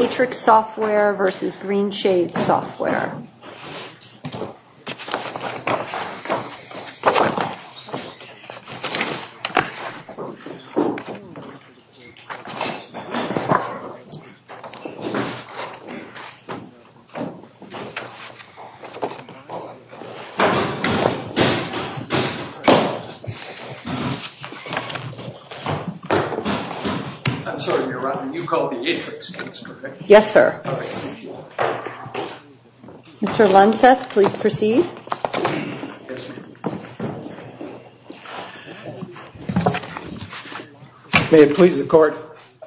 Aatrix Software v. Greenshades Software Yes, sir. Mr. Lunseth, please proceed. Yes, ma'am. May it please the Court.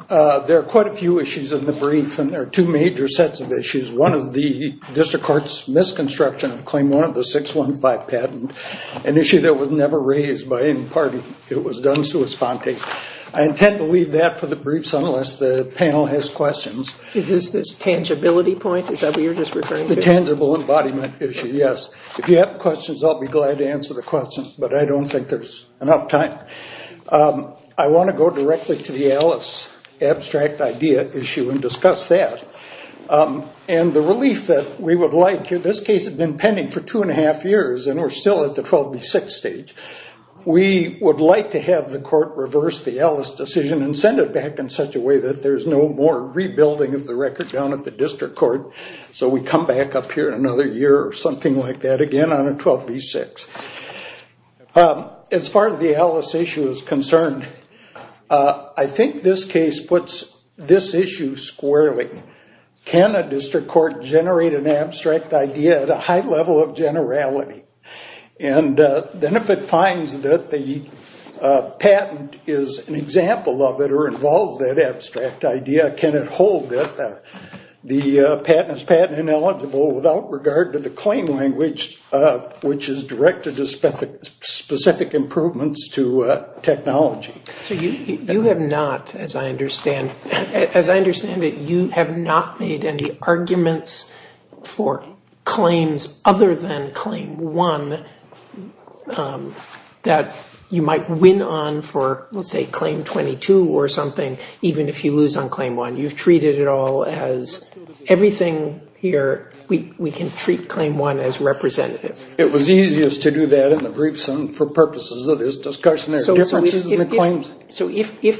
There are quite a few issues in the brief, and there are two major sets of issues. One is the district court's misconstruction of Claim 1 of the 615 patent, an issue that was never raised by any party. It was done sua sponte. I intend to leave that for the briefs unless the panel has questions. Is this this tangibility point, is that what you're just referring to? The tangible embodiment issue, yes. If you have questions, I'll be glad to answer the questions, but I don't think there's enough time. I want to go directly to the Alice abstract idea issue and discuss that. And the relief that we would like here, this case had been pending for two and a half years, and we're still at the 12B6 stage. We would like to have the court reverse the Alice decision and send it back in such a way that there's no more rebuilding of the record down at the district court, so we come back up here in another year or something like that again on a 12B6. As far as the Alice issue is concerned, I think this case puts this issue squarely. Can a district court generate an abstract idea at a high level of generality? And then if it finds that the patent is an example of it or involves that abstract idea, can it hold it? The patent is patent ineligible without regard to the claim language, which is directed to specific improvements to technology. You have not, as I understand it, you have not made any arguments for claims other than Claim 1 that you might win on for, let's say, Claim 22 or something, even if you lose on Claim 1. You've treated it all as everything here, we can treat Claim 1 as representative. It was easiest to do that in the briefs and for purposes of this discussion. So if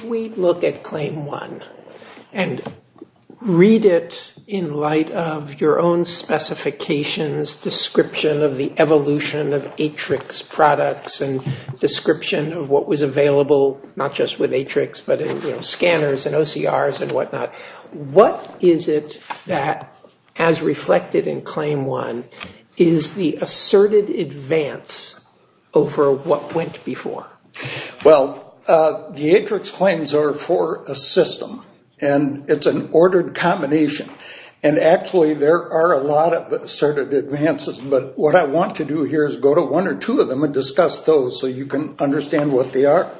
we look at Claim 1 and read it in light of your own specifications, description of the evolution of Atrix products and description of what was available not just with Atrix but in scanners and OCRs and whatnot, what is it that, as reflected in Claim 1, is the asserted advance over what went before? Well, the Atrix claims are for a system, and it's an ordered combination. And actually there are a lot of asserted advances, but what I want to do here is go to one or two of them and discuss those so you can understand what they are.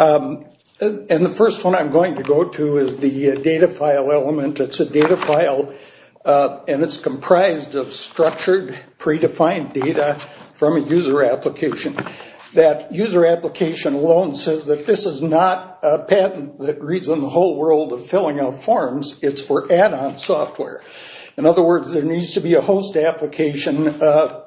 And the first one I'm going to go to is the data file element. It's a data file, and it's comprised of structured, predefined data from a user application. That user application alone says that this is not a patent that reads on the whole world of filling out forms. It's for add-on software. In other words, there needs to be a host application,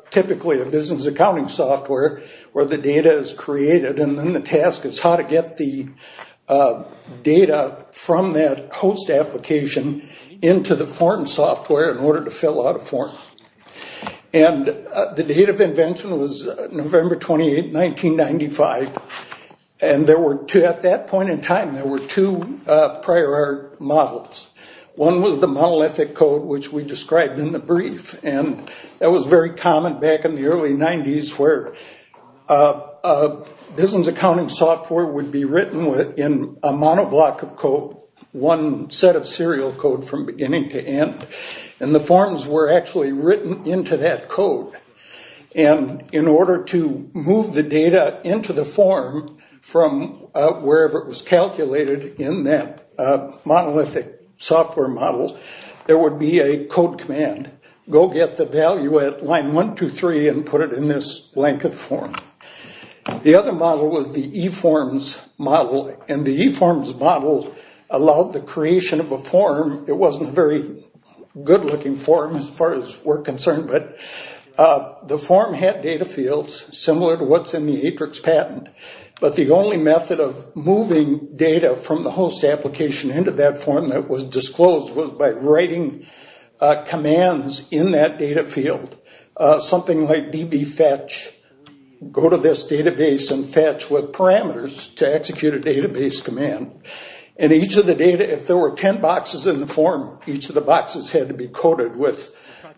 typically a business accounting software, where the data is created, and then the task is how to get the data from that host application into the form software in order to fill out a form. And the date of invention was November 28, 1995, and at that point in time there were two prior art models. One was the monolithic code, which we described in the brief, and that was very common back in the early 90s where business accounting software would be written in a monoblock of code, one set of serial code from beginning to end, and the forms were actually written into that code. And in order to move the data into the form from wherever it was calculated in that monolithic software model, there would be a code command, go get the value at line 1, 2, 3, and put it in this blanket form. The other model was the e-forms model, and the e-forms model allowed the creation of a form. It wasn't a very good looking form as far as we're concerned, but the form had data fields similar to what's in the Atrix patent, but the only method of moving data from the host application into that form that was disclosed was by writing commands in that data field, something like db fetch, go to this database and fetch with parameters to execute a database command. And each of the data, if there were 10 boxes in the form, each of the boxes had to be coded with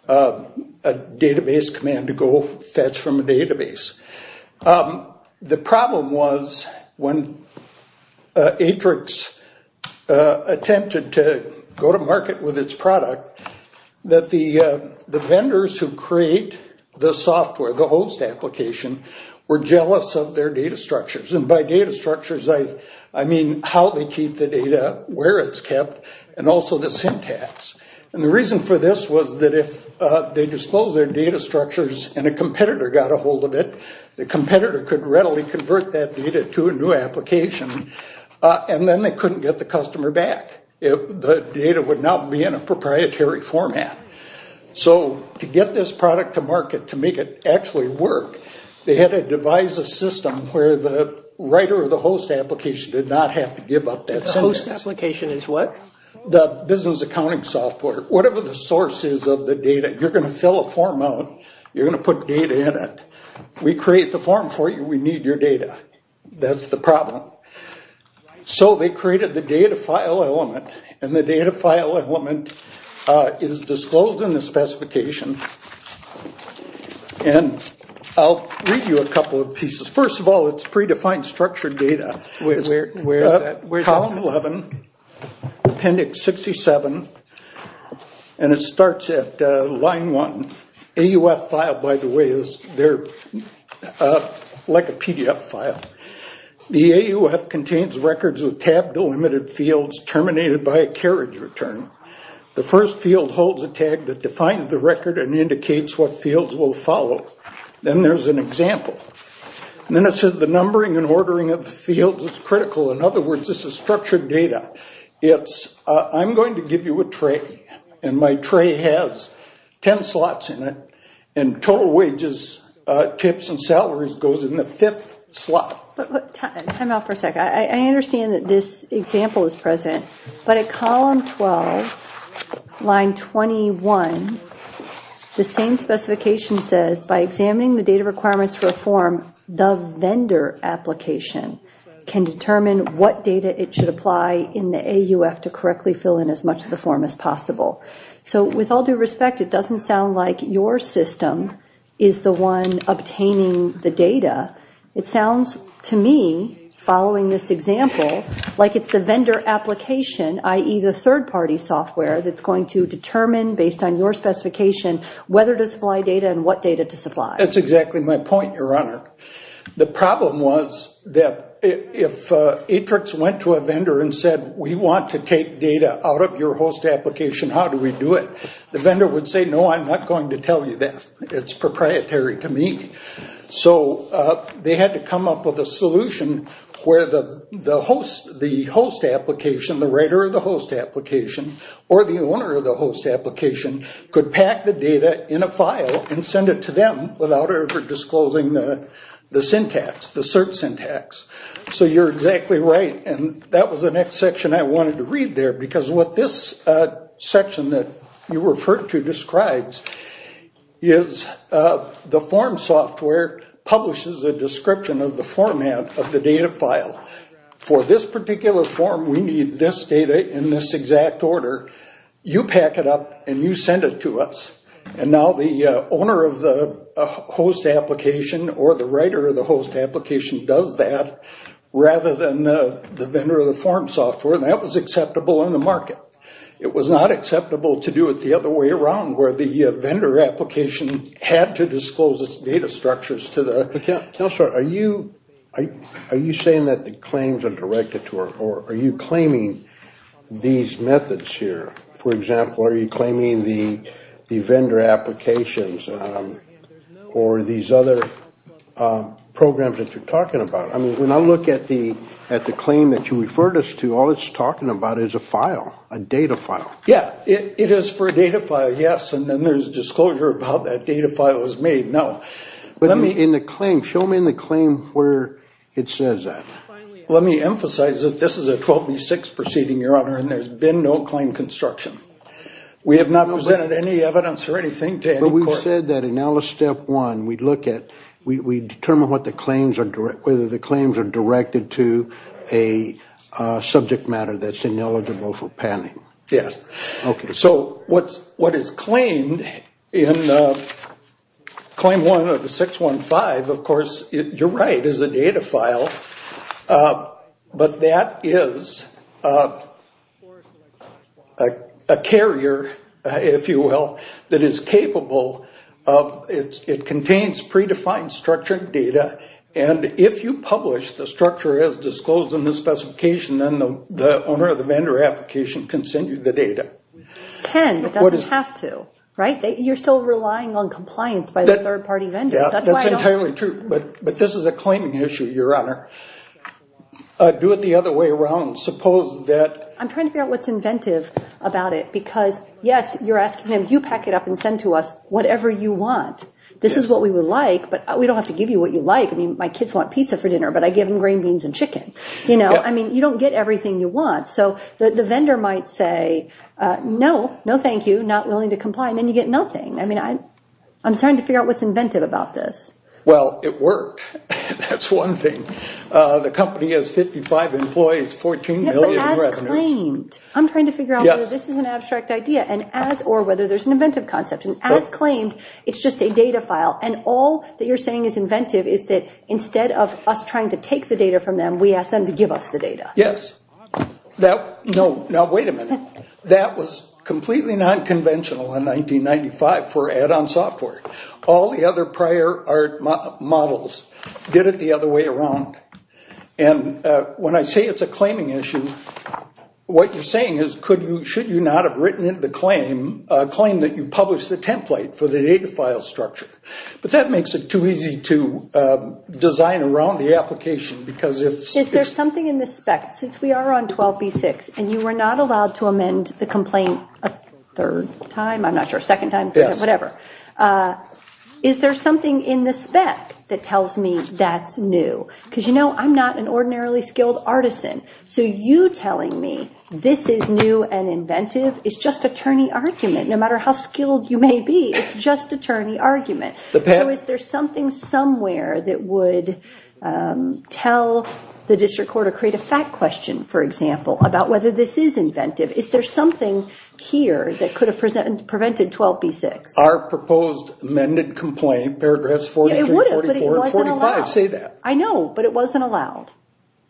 a database command to go fetch from a database. The problem was when Atrix attempted to go to market with its product, that the vendors who create the software, the host application, were jealous of their data structures. And by data structures, I mean how they keep the data, where it's kept, and also the syntax. And the reason for this was that if they disclosed their data structures and a competitor got a hold of it, the competitor could readily convert that data to a new application, and then they couldn't get the customer back. The data would not be in a proprietary format. So to get this product to market, to make it actually work, they had to devise a system where the writer of the host application did not have to give up that syntax. The host application is what? The business accounting software. Whatever the source is of the data, you're going to fill a form out, you're going to put data in it. We create the form for you, we need your data. That's the problem. So they created the data file element, and the data file element is disclosed in the specification. And I'll read you a couple of pieces. First of all, it's predefined structured data. Where is that? Column 11, appendix 67, and it starts at line 1. AUF file, by the way, is there like a PDF file. The AUF contains records of tab-delimited fields terminated by a carriage return. The first field holds a tag that defines the record and indicates what fields will follow. Then there's an example. Then it says the numbering and ordering of the fields is critical. In other words, this is structured data. It's, I'm going to give you a tray, and my tray has 10 slots in it, and total wages, tips, and salaries goes in the fifth slot. Time out for a second. I understand that this example is present, but at column 12, line 21, the same specification says by examining the data requirements for a form, the vendor application can determine what data it should apply in the AUF With all due respect, it doesn't sound like your system is the one obtaining the data. It sounds to me, following this example, like it's the vendor application, i.e., the third-party software that's going to determine based on your specification whether to supply data and what data to supply. That's exactly my point, Your Honor. The problem was that if Atrix went to a vendor and said, We want to take data out of your host application. How do we do it? The vendor would say, No, I'm not going to tell you that. It's proprietary to me. So they had to come up with a solution where the host application, the writer of the host application, or the owner of the host application, could pack the data in a file and send it to them without ever disclosing the syntax, the cert syntax. So you're exactly right, and that was the next section I wanted to read there because what this section that you referred to describes is the form software publishes a description of the format of the data file. For this particular form, we need this data in this exact order. You pack it up and you send it to us, and now the owner of the host application or the writer of the host application does that rather than the vendor of the form software, and that was acceptable in the market. It was not acceptable to do it the other way around where the vendor application had to disclose its data structures to the applicant. Counselor, are you saying that the claims are directed to her, or are you claiming these methods here? For example, are you claiming the vendor applications or these other programs that you're talking about? I mean, when I look at the claim that you referred us to, all it's talking about is a file, a data file. Yeah, it is for a data file, yes, and then there's disclosure of how that data file is made, no. But in the claim, show me in the claim where it says that. Let me emphasize that this is a 12B6 proceeding, Your Honor, and there's been no claim construction. We have not presented any evidence or anything to any court. But we've said that in ALICE Step 1, we determine whether the claims are directed to a subject matter that's ineligible for panning. Yes. Okay. So what is claimed in Claim 1 of the 615, of course, you're right, is a data file. But that is a carrier, if you will, that is capable of, it contains predefined structured data, and if you publish the structure as disclosed in the specification, then the owner of the vendor application can send you the data. Can, but doesn't have to, right? You're still relying on compliance by the third-party vendors. Yeah, that's entirely true. But this is a claiming issue, Your Honor. Do it the other way around. Suppose that – I'm trying to figure out what's inventive about it because, yes, you're asking them, you pack it up and send to us whatever you want. This is what we would like, but we don't have to give you what you like. I mean, my kids want pizza for dinner, but I give them green beans and chicken. You know, I mean, you don't get everything you want. So the vendor might say, no, no thank you, not willing to comply, and then you get nothing. I mean, I'm trying to figure out what's inventive about this. Well, it worked. That's one thing. The company has 55 employees, 14 million in revenues. Yeah, but as claimed. I'm trying to figure out whether this is an abstract idea, and as or whether there's an inventive concept. And as claimed, it's just a data file. And all that you're saying is inventive is that instead of us trying to take the data from them, we ask them to give us the data. Yes. Now, wait a minute. That was completely nonconventional in 1995 for add-on software. All the other prior art models did it the other way around. And when I say it's a claiming issue, what you're saying is, should you not have written in the claim, a claim that you published the template for the data file structure. But that makes it too easy to design around the application, because if there's something in the spec, since we are on 12B6 and you were not allowed to amend the complaint a third time, I'm not sure, a second time, whatever, is there something in the spec that tells me that's new? Because, you know, I'm not an ordinarily skilled artisan, so you telling me this is new and inventive is just attorney argument. No matter how skilled you may be, it's just attorney argument. So is there something somewhere that would tell the district court or create a fact question, for example, about whether this is inventive? Is there something here that could have prevented 12B6? Our proposed amended complaint, paragraphs 43, 44, and 45 say that. I know, but it wasn't allowed.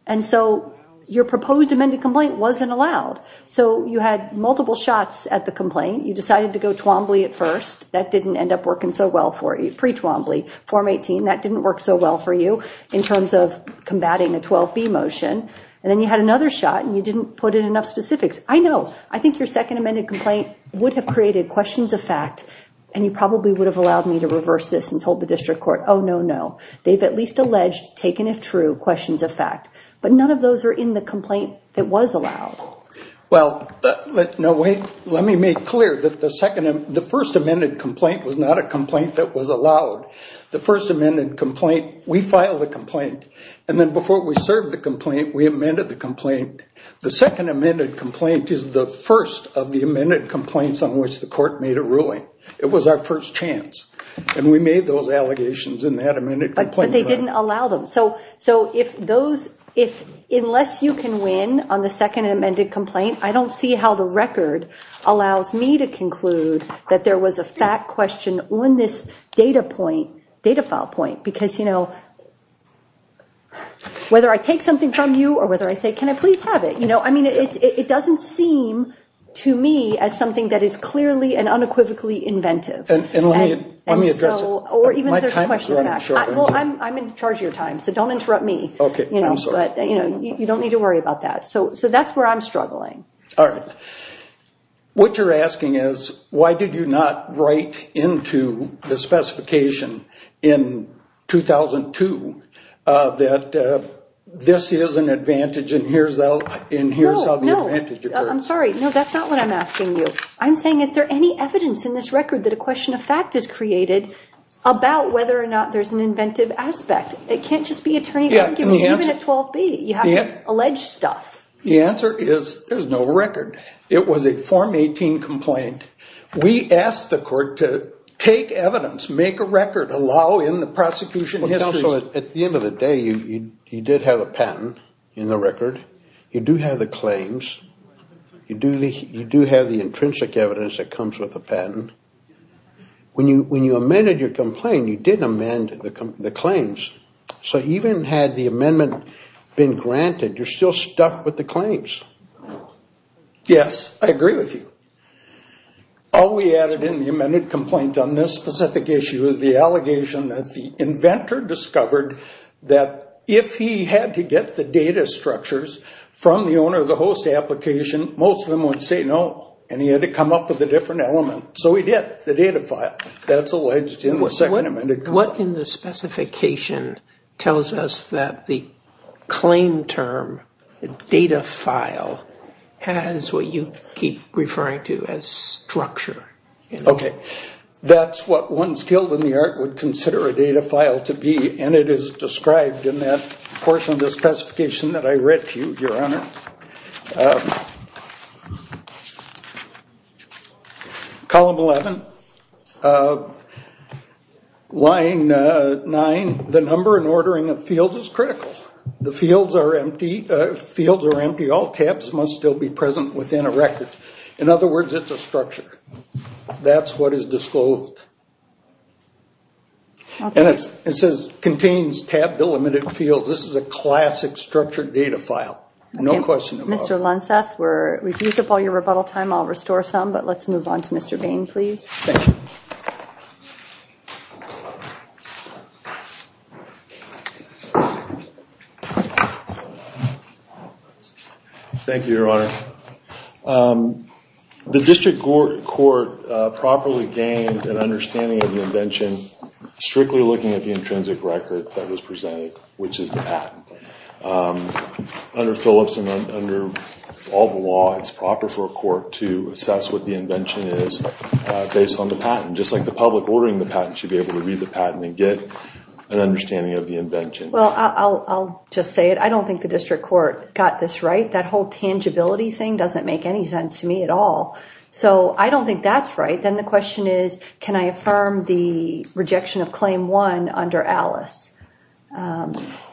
And so your proposed amended complaint wasn't allowed. So you had multiple shots at the complaint. You decided to go Twombly at first. That didn't end up working so well for you. Pre-Twombly, Form 18, that didn't work so well for you in terms of combating a 12B motion. And then you had another shot, and you didn't put in enough specifics. I know. I think your second amended complaint would have created questions of fact, and you probably would have allowed me to reverse this and told the district court, oh, no, no. They've at least alleged, taken if true, questions of fact. But none of those are in the complaint that was allowed. Well, let me make clear that the first amended complaint was not a complaint that was allowed. The first amended complaint, we filed a complaint. And then before we served the complaint, we amended the complaint. The second amended complaint is the first of the amended complaints on which the court made a ruling. It was our first chance. And we made those allegations in that amended complaint. But they didn't allow them. So unless you can win on the second amended complaint, I don't see how the record allows me to conclude that there was a fact question on this data file point. Because, you know, whether I take something from you or whether I say, can I please have it? I mean, it doesn't seem to me as something that is clearly and unequivocally inventive. And let me address it. My time is running short. Well, I'm in charge of your time, so don't interrupt me. Okay, I'm sorry. But, you know, you don't need to worry about that. So that's where I'm struggling. All right. What you're asking is, why did you not write into the specification in 2002 that this is an advantage and here's how the advantage occurs? No, no. I'm sorry. No, that's not what I'm asking you. I'm saying, is there any evidence in this record that a question of fact is created about whether or not there's an inventive aspect? It can't just be attorney's argument, even at 12B. You have to allege stuff. The answer is there's no record. It was a Form 18 complaint. We asked the court to take evidence, make a record, allow in the prosecution histories. Well, counsel, at the end of the day, you did have a patent in the record. You do have the intrinsic evidence that comes with the patent. When you amended your complaint, you did amend the claims. So even had the amendment been granted, you're still stuck with the claims. Yes. I agree with you. All we added in the amended complaint on this specific issue is the allegation that the inventor discovered that if he had to get the data structures from the owner of the host application, most of them would say no, and he had to come up with a different element. So he did, the data file. That's alleged in the second amended complaint. What in the specification tells us that the claim term, the data file, has what you keep referring to as structure? Okay. That's what one skilled in the art would consider a data file to be, and it is described in that portion of the specification that I read to you, Your Honor. Column 11, line 9, the number and ordering of fields is critical. The fields are empty. All tabs must still be present within a record. In other words, it's a structure. That's what is disclosed. And it says contains tab-delimited fields. This is a classic structured data file. No question about it. Mr. Lunseth, we've used up all your rebuttal time. I'll restore some, but let's move on to Mr. Bain, please. Thank you. Thank you, Your Honor. The district court properly gained an understanding of the invention, strictly looking at the intrinsic record that was presented, which is the patent. Under Phillips and under all the law, it's proper for a court to assess what the invention is based on the patent, just like the public ordering the patent should be able to read the patent and get an understanding of the invention. Well, I'll just say it. I don't think the district court got this right. That whole tangibility thing doesn't make any sense to me at all. So I don't think that's right. Then the question is, can I affirm the rejection of Claim 1 under Alice?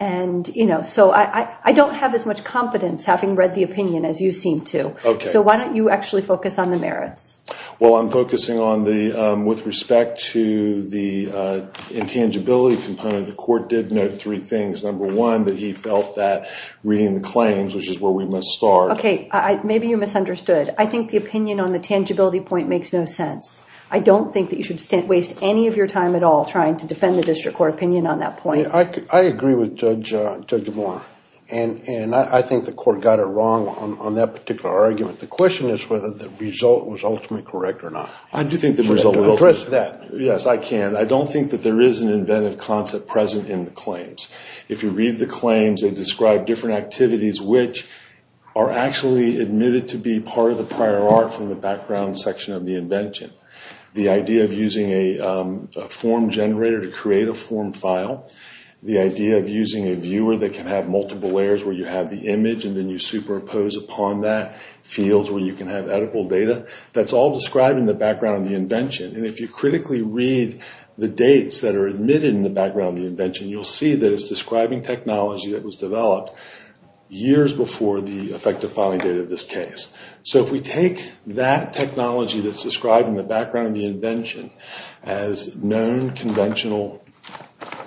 And, you know, so I don't have as much confidence having read the opinion as you seem to. Okay. So why don't you actually focus on the merits? Well, I'm focusing on the, with respect to the intangibility component, the court did note three things. Number one, that he felt that reading the claims, which is where we must start. Okay. Maybe you misunderstood. I think the opinion on the tangibility point makes no sense. I don't think that you should waste any of your time at all trying to defend the district court opinion on that point. I agree with Judge DeBoer, and I think the court got it wrong on that particular argument. The question is whether the result was ultimately correct or not. I do think the result was ultimately correct. Yes, I can. I don't think that there is an inventive concept present in the claims. If you read the claims, they describe different activities, which are actually admitted to be part of the prior art from the background section of the invention. The idea of using a form generator to create a form file, the idea of using a viewer that can have multiple layers where you have the image and then you superimpose upon that fields where you can have editable data, that's all described in the background of the invention. And if you critically read the dates that are admitted in the background of the invention, you'll see that it's describing technology that was developed years before the effective filing date of this case. So if we take that technology that's described in the background of the invention as known conventional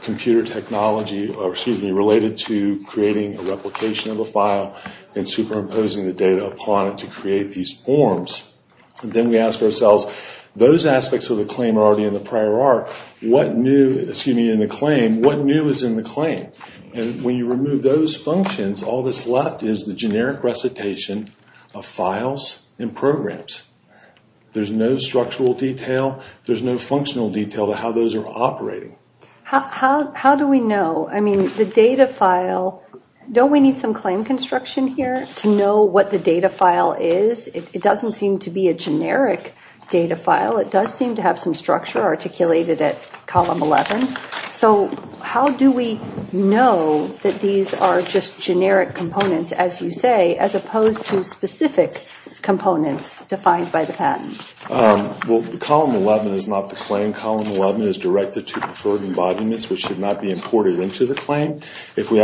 computer technology related to creating a replication of a file and superimposing the data upon it to create these forms, then we ask ourselves, those aspects of the claim are already in the prior art. What new is in the claim? And when you remove those functions, all that's left is the generic recitation of files and programs. There's no structural detail, there's no functional detail to how those are operating. How do we know? I mean, the data file, don't we need some claim construction here to know what the data file is? It doesn't seem to be a generic data file. It does seem to have some structure articulated at column 11. So how do we know that these are just generic components, as you say, as opposed to specific components defined by the patent? Well, column 11 is not the claim. Column 11 is directed to preferred embodiments, which should not be imported into the claim. We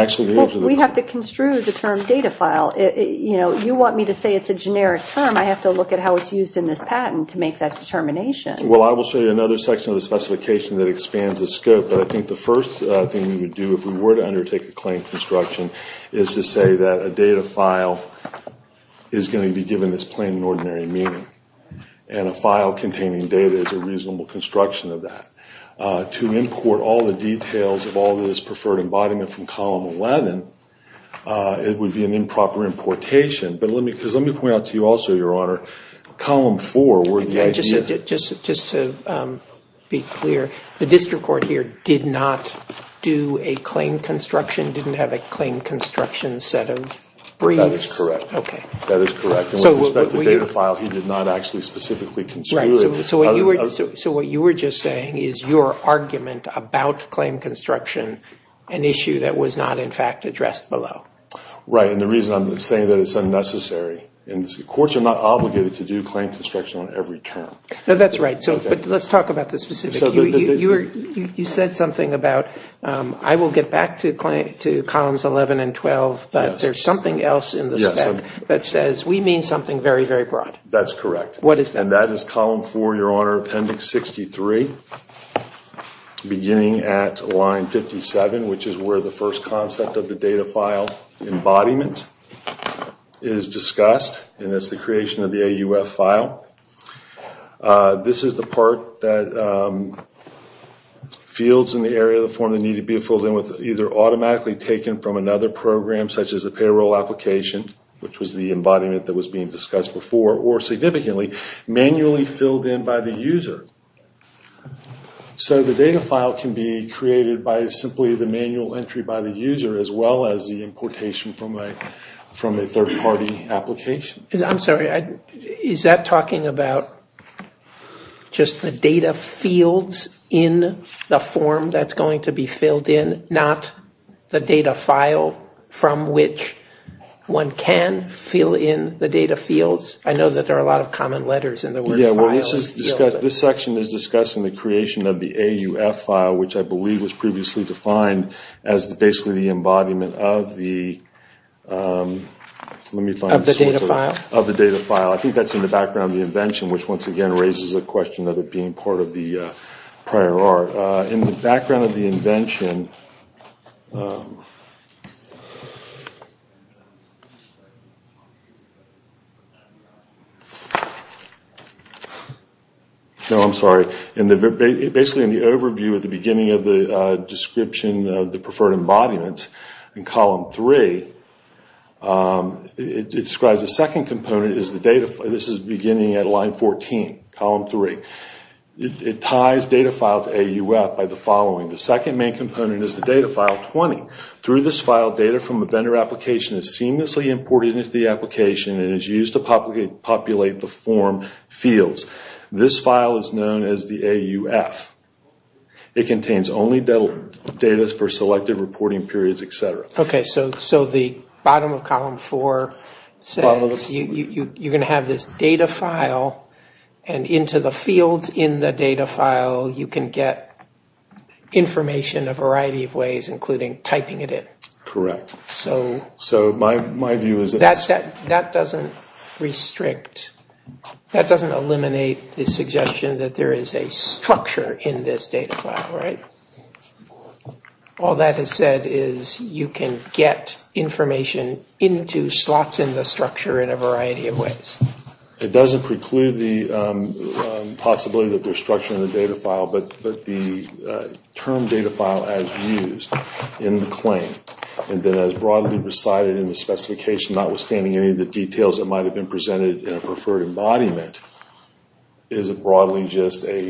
have to construe the term data file. You want me to say it's a generic term. I have to look at how it's used in this patent to make that determination. Well, I will show you another section of the specification that expands the scope, but I think the first thing we would do if we were to undertake a claim construction is to say that a data file is going to be given this plain and ordinary meaning, and a file containing data is a reasonable construction of that. To import all the details of all this preferred embodiment from column 11, it would be an improper importation. Let me point out to you also, Your Honor, column 4. Just to be clear, the district court here did not do a claim construction, didn't have a claim construction set of briefs? That is correct. With respect to the data file, he did not actually specifically construe it. So what you were just saying is your argument about claim construction, an issue that was not, in fact, addressed below. Right, and the reason I'm saying that is it's unnecessary. Courts are not obligated to do claim construction on every term. That's right, but let's talk about the specifics. You said something about I will get back to columns 11 and 12, but there's something else in the spec that says we mean something very, very broad. That's correct. What is that? That is column 4, Your Honor, appendix 63, beginning at line 57, which is where the first concept of the data file embodiment is discussed, and that's the creation of the AUF file. This is the part that fields in the area of the form that needed to be filled in with either automatically taken from another program, such as a payroll application, which was the embodiment that was being discussed before, or significantly manually filled in by the user. So the data file can be created by simply the manual entry by the user as well as the importation from a third-party application. I'm sorry. Is that talking about just the data fields in the form that's going to be filled in, not the data file from which one can fill in the data fields? I know that there are a lot of common letters in the word files. This section is discussing the creation of the AUF file, which I believe was previously defined as basically the embodiment of the data file. I think that's in the background of the invention, which once again raises the question of it being part of the prior art. In the background of the invention, no, I'm sorry, basically in the overview at the beginning of the description of the preferred embodiment, in column three, it describes the second component. This is beginning at line 14, column three. It ties data file to AUF by the following. The second main component is the data file 20. Through this file, data from a vendor application is seamlessly imported into the application and is used to populate the form fields. This file is known as the AUF. It contains only data for selected reporting periods, et cetera. Okay, so the bottom of column four says you're going to have this data file and into the fields in the data file you can get information a variety of ways, including typing it in. Correct. So my view is that that doesn't restrict, that doesn't eliminate the suggestion that there is a structure in this data file, right? All that is said is you can get information into slots in the structure in a variety of ways. It doesn't preclude the possibility that there's structure in the data file, but the term data file as used in the claim and then as broadly recited in the specification, notwithstanding any of the details that might have been presented in a preferred embodiment, is broadly just a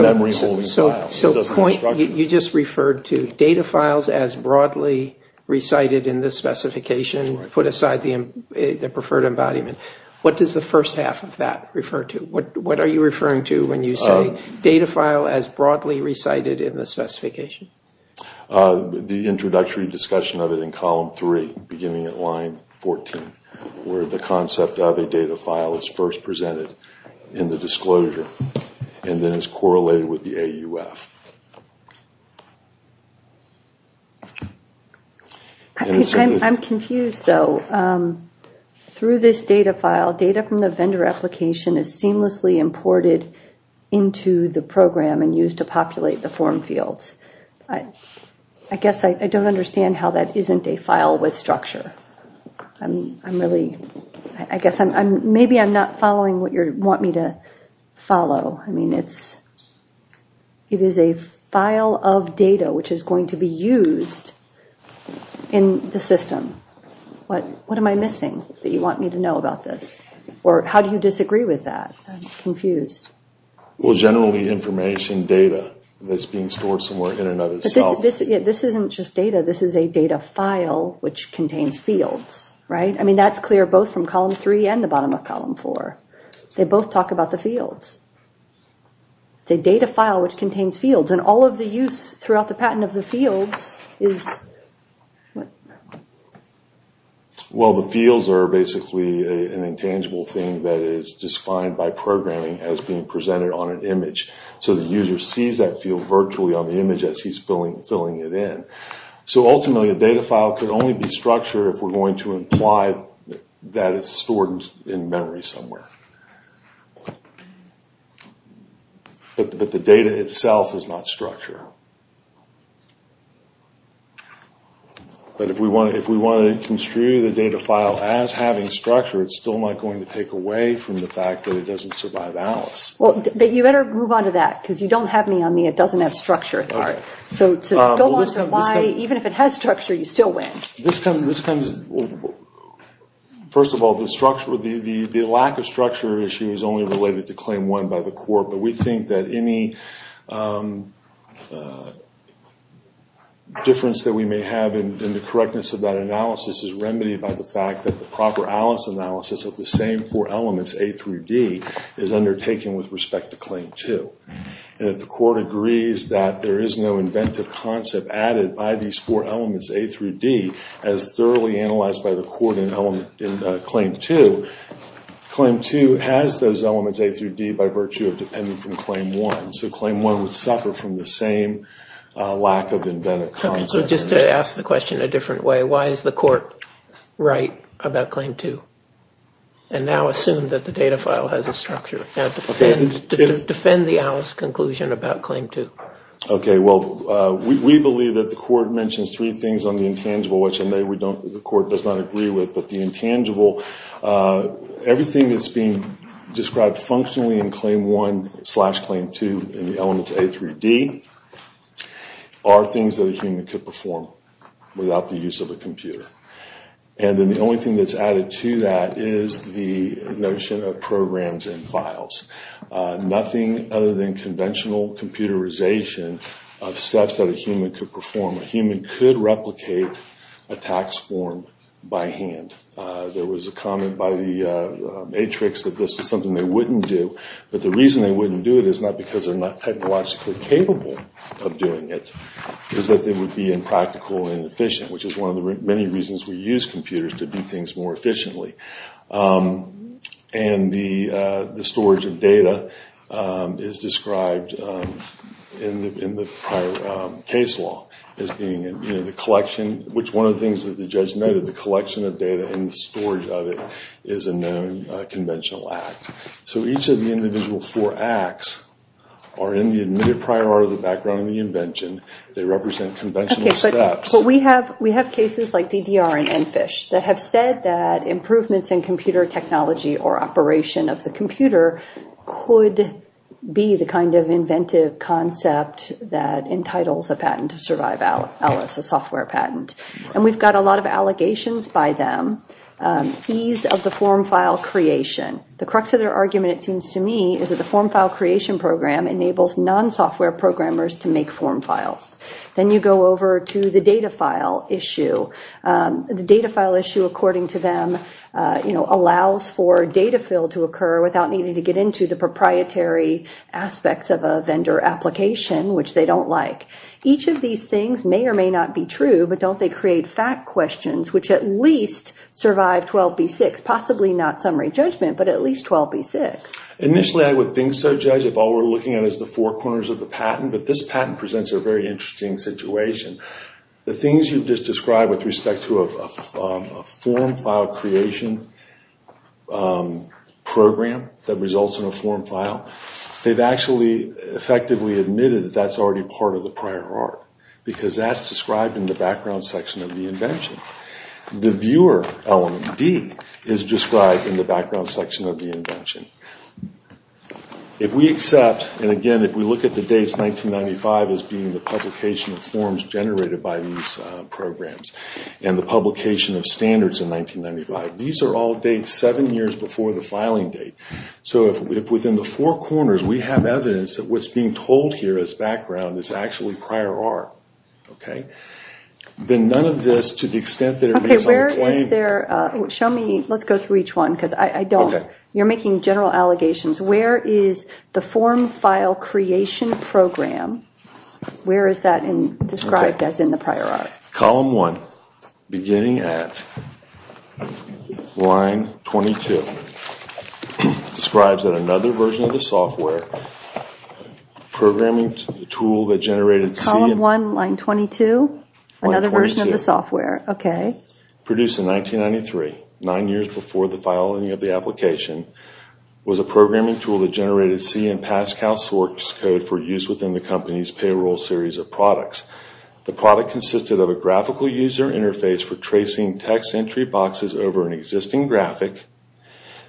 memory holding file. So you just referred to data files as broadly recited in the specification, put aside the preferred embodiment. What does the first half of that refer to? What are you referring to when you say data file as broadly recited in the specification? The introductory discussion of it in column three, beginning at line 14, where the concept of a data file is first presented in the disclosure and then is correlated with the AUF. I'm confused, though. Through this data file, data from the vendor application is seamlessly imported into the program and used to populate the form fields. I guess I don't understand how that isn't a file with structure. I guess maybe I'm not following what you want me to follow. I mean, it is a file of data which is going to be used in the system. What am I missing that you want me to know about this? Or how do you disagree with that? I'm confused. Well, generally information data that's being stored somewhere in another cell. This isn't just data. This is a data file which contains fields, right? I mean, that's clear both from column three and the bottom of column four. They both talk about the fields. It's a data file which contains fields. And all of the use throughout the patent of the fields is what? Well, the fields are basically an intangible thing that is defined by programming as being presented on an image. So the user sees that field virtually on the image as he's filling it in. So ultimately a data file could only be structured if we're going to imply that it's stored in memory somewhere. But the data itself is not structure. But if we want to construe the data file as having structure, it's still not going to take away from the fact that it doesn't survive Alice. But you better move on to that because you don't have me on the it doesn't have structure part. So to go on to why even if it has structure you still win. First of all, the lack of structure issue is only related to claim one by the court. But we think that any difference that we may have in the correctness of that analysis is remedied by the fact that the proper Alice analysis of the same four elements, A through D, is undertaken with respect to claim two. And if the court agrees that there is no inventive concept added by these four elements, A through D, as thoroughly analyzed by the court in claim two, claim two has those elements A through D by virtue of depending from claim one. So claim one would suffer from the same lack of inventive concept. So just to ask the question a different way, why is the court right about claim two? And now assume that the data file has a structure. Now defend the Alice conclusion about claim two. Okay, well, we believe that the court mentions three things on the intangible, which the court does not agree with. But the intangible, everything that's being described functionally in claim one slash claim two in the elements A through D, are things that a human could perform without the use of a computer. And then the only thing that's added to that is the notion of programs and files. Nothing other than conventional computerization of steps that a human could perform. A human could replicate a tax form by hand. There was a comment by the matrix that this was something they wouldn't do. But the reason they wouldn't do it is not because they're not technologically capable of doing it. It's that they would be impractical and inefficient, which is one of the many reasons we use computers to do things more efficiently. And the storage of data is described in the prior case law as being the collection, which one of the things that the judge noted, the collection of data and the storage of it is a known conventional act. So each of the individual four acts are in the admitted prior art of the background and the invention. They represent conventional steps. We have cases like DDR and EnFish that have said that improvements in computer technology or operation of the computer could be the kind of inventive concept that entitles a patent to survive Alice, a software patent. And we've got a lot of allegations by them. Ease of the form file creation. The crux of their argument, it seems to me, is that the form file creation program enables non-software programmers to make form files. Then you go over to the data file issue. The data file issue, according to them, allows for data fill to occur without needing to get into the proprietary aspects of a vendor application, which they don't like. Each of these things may or may not be true, but don't they create fact questions which at least survive 12B6, possibly not summary judgment, but at least 12B6? Initially, I would think so, Judge, if all we're looking at is the four corners of the patent. But this patent presents a very interesting situation. The things you've just described with respect to a form file creation program that results in a form file, they've actually effectively admitted that that's already part of the prior art because that's described in the background section of the invention. The viewer element, D, is described in the background section of the invention. If we accept, and again, if we look at the dates, 1995, as being the publication of forms generated by these programs and the publication of standards in 1995, these are all dates seven years before the filing date. So if within the four corners we have evidence that what's being told here as background is actually prior art, then none of this, to the extent that it reads on the plane... Let's go through each one because I don't... You're making general allegations. Where is the form file creation program? Where is that described as in the prior art? Column 1, beginning at line 22, describes that another version of the software, programming tool that generated C... Column 1, line 22? Another version of the software, okay. Produced in 1993, nine years before the filing of the application, was a programming tool that generated C and PASCAL source code for use within the company's payroll series of products. The product consisted of a graphical user interface for tracing text entry boxes over an existing graphic,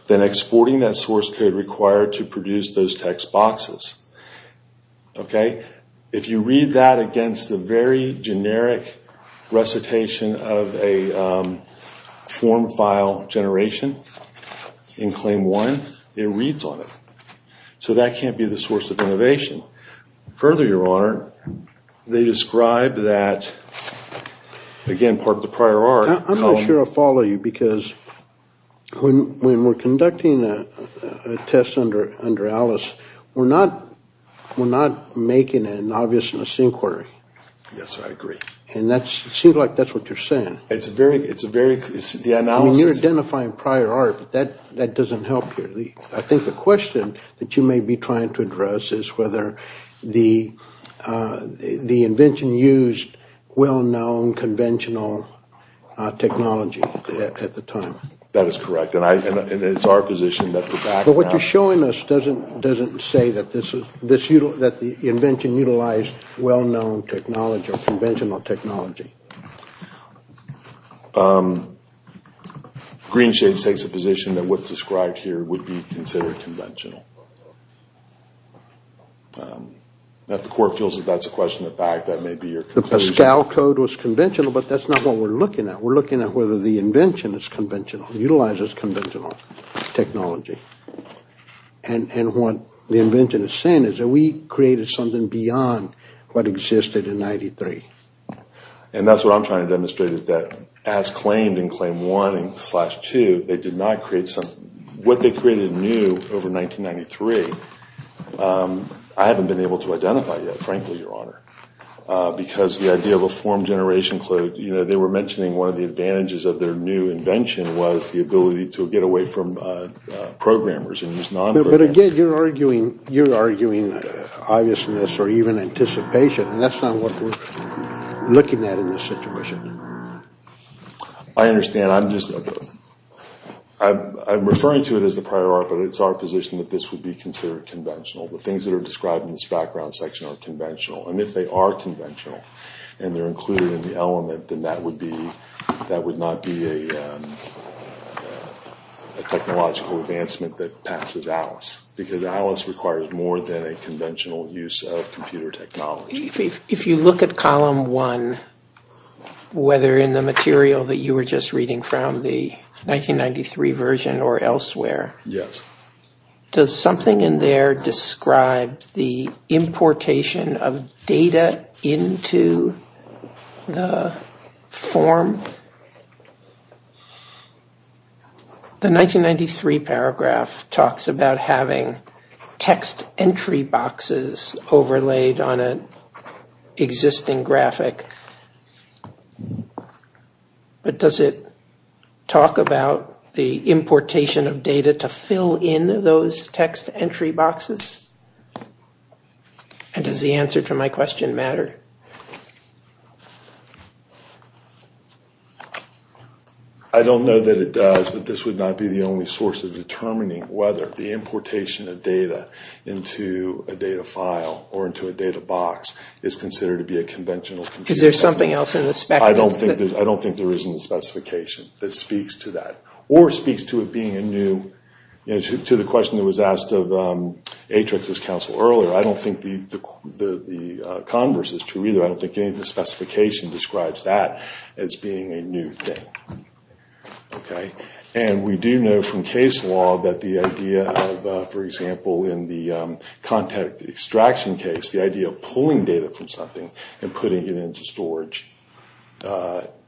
then exporting that source code required to produce those text boxes. Okay? If you read that against the very generic recitation of a form file generation in claim 1, it reads on it. So that can't be the source of innovation. Further, Your Honor, they describe that, again, part of the prior art... I'm not sure I follow you because when we're conducting a test under Alice, we're not making an obvious misinquiry. Yes, I agree. And it seems like that's what you're saying. It's a very... I mean, you're identifying prior art, but that doesn't help here. I think the question that you may be trying to address is whether the invention used well-known conventional technology at the time. That is correct, and it's our position that the background... But what you're showing us doesn't say that the invention utilized well-known technology or conventional technology. Greenshades takes a position that what's described here would be considered conventional. If the court feels that that's a question of fact, that may be your conclusion. The Pascal code was conventional, but that's not what we're looking at. We're looking at whether the invention is conventional, utilizes conventional technology. And what the invention is saying is that we created something beyond what existed in 93. And that's what I'm trying to demonstrate is that as claimed in Claim 1 and Slash 2, they did not create something... What they created new over 1993, I haven't been able to identify yet, frankly, Your Honor, because the idea of a form generation code... One of the advantages of their new invention was the ability to get away from programmers. But again, you're arguing obviousness or even anticipation, and that's not what we're looking at in this situation. I understand. I'm just... I'm referring to it as a prior art, but it's our position that this would be considered conventional. The things that are described in this background section are conventional. And if they are conventional and they're included in the element, then that would not be a technological advancement that passes Alice, because Alice requires more than a conventional use of computer technology. If you look at Column 1, whether in the material that you were just reading from, the 1993 version or elsewhere... Yes. Does something in there describe the importation of data into the form? The 1993 paragraph talks about having text entry boxes overlaid on an existing graphic. But does it talk about the importation of data to fill in those text entry boxes? And does the answer to my question matter? I don't know that it does, but this would not be the only source of determining whether the importation of data into a data file or into a data box is considered to be a conventional... Because there's something else in the spec? I don't think there is in the specification that speaks to that. Or speaks to it being a new... To the question that was asked of Atrix's counsel earlier, I don't think the converse is true either. I don't think any of the specification describes that as being a new thing. And we do know from case law that the idea of, for example, in the contact extraction case, the idea of pulling data from something and putting it into storage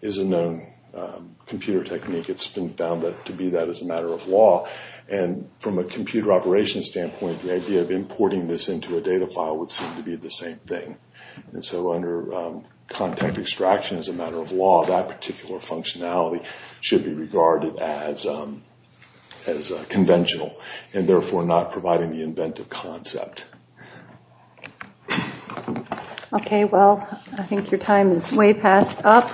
is a known computer technique. It's been found to be that as a matter of law. And from a computer operation standpoint, the idea of importing this into a data file would seem to be the same thing. And so under contact extraction as a matter of law, that particular functionality should be regarded as conventional and therefore not providing the inventive concept. Okay, well, I think your time is way past up.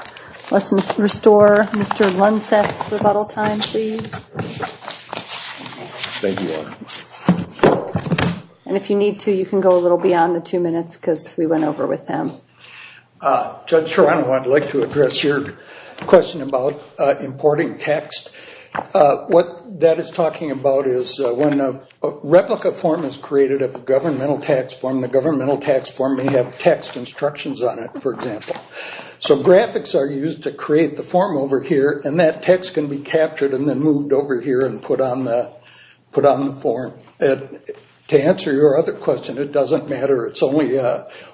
Let's restore Mr. Lunseth's rebuttal time, please. Thank you, Your Honor. And if you need to, you can go a little beyond the two minutes because we went over with them. Judge Serrano, I'd like to address your question about importing text. What that is talking about is when a replica form is created of a governmental tax form, and the governmental tax form may have text instructions on it, for example. So graphics are used to create the form over here, and that text can be captured and then moved over here and put on the form. To answer your other question, it doesn't matter. It's only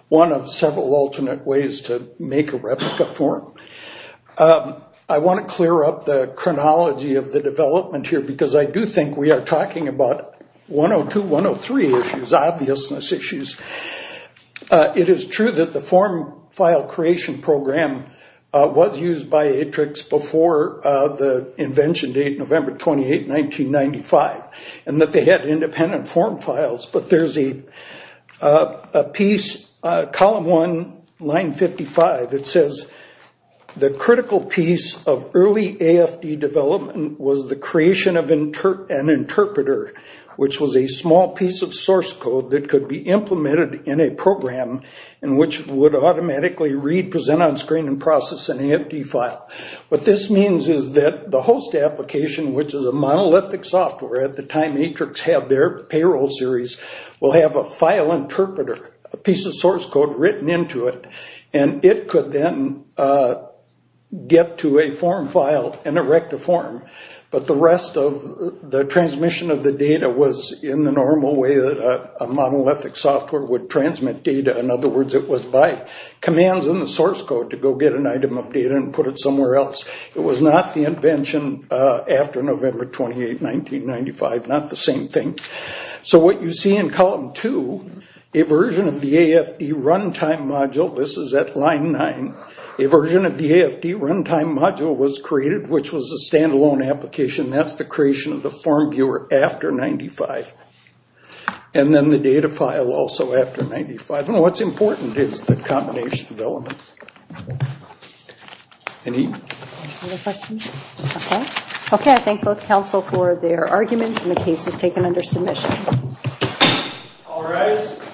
one of several alternate ways to make a replica form. I want to clear up the chronology of the development here because I do think we are talking about 102, 103 issues, obviousness issues. It is true that the form file creation program was used by Atrix before the invention date, November 28, 1995, and that they had independent form files. But there's a piece, column one, line 55. It says the critical piece of early AFD development was the creation of an interpreter, which was a small piece of source code that could be implemented in a program in which it would automatically read, present on screen, and process an AFD file. What this means is that the host application, which is a monolithic software at the time Atrix had their payroll series, will have a file interpreter, a piece of source code written into it, and it could then get to a form file and erect a form. But the rest of the transmission of the data was in the normal way that a monolithic software would transmit data. In other words, it was by commands in the source code to go get an item of data and put it somewhere else. It was not the invention after November 28, 1995. Not the same thing. So what you see in column two, a version of the AFD runtime module. This is at line nine. A version of the AFD runtime module was created, which was a stand-alone application. That's the creation of the form viewer after 1995. And then the data file also after 1995. And what's important is the combination of elements. Any other questions? Okay. Okay, I thank both counsel for their arguments, and the case is taken under submission. All rise.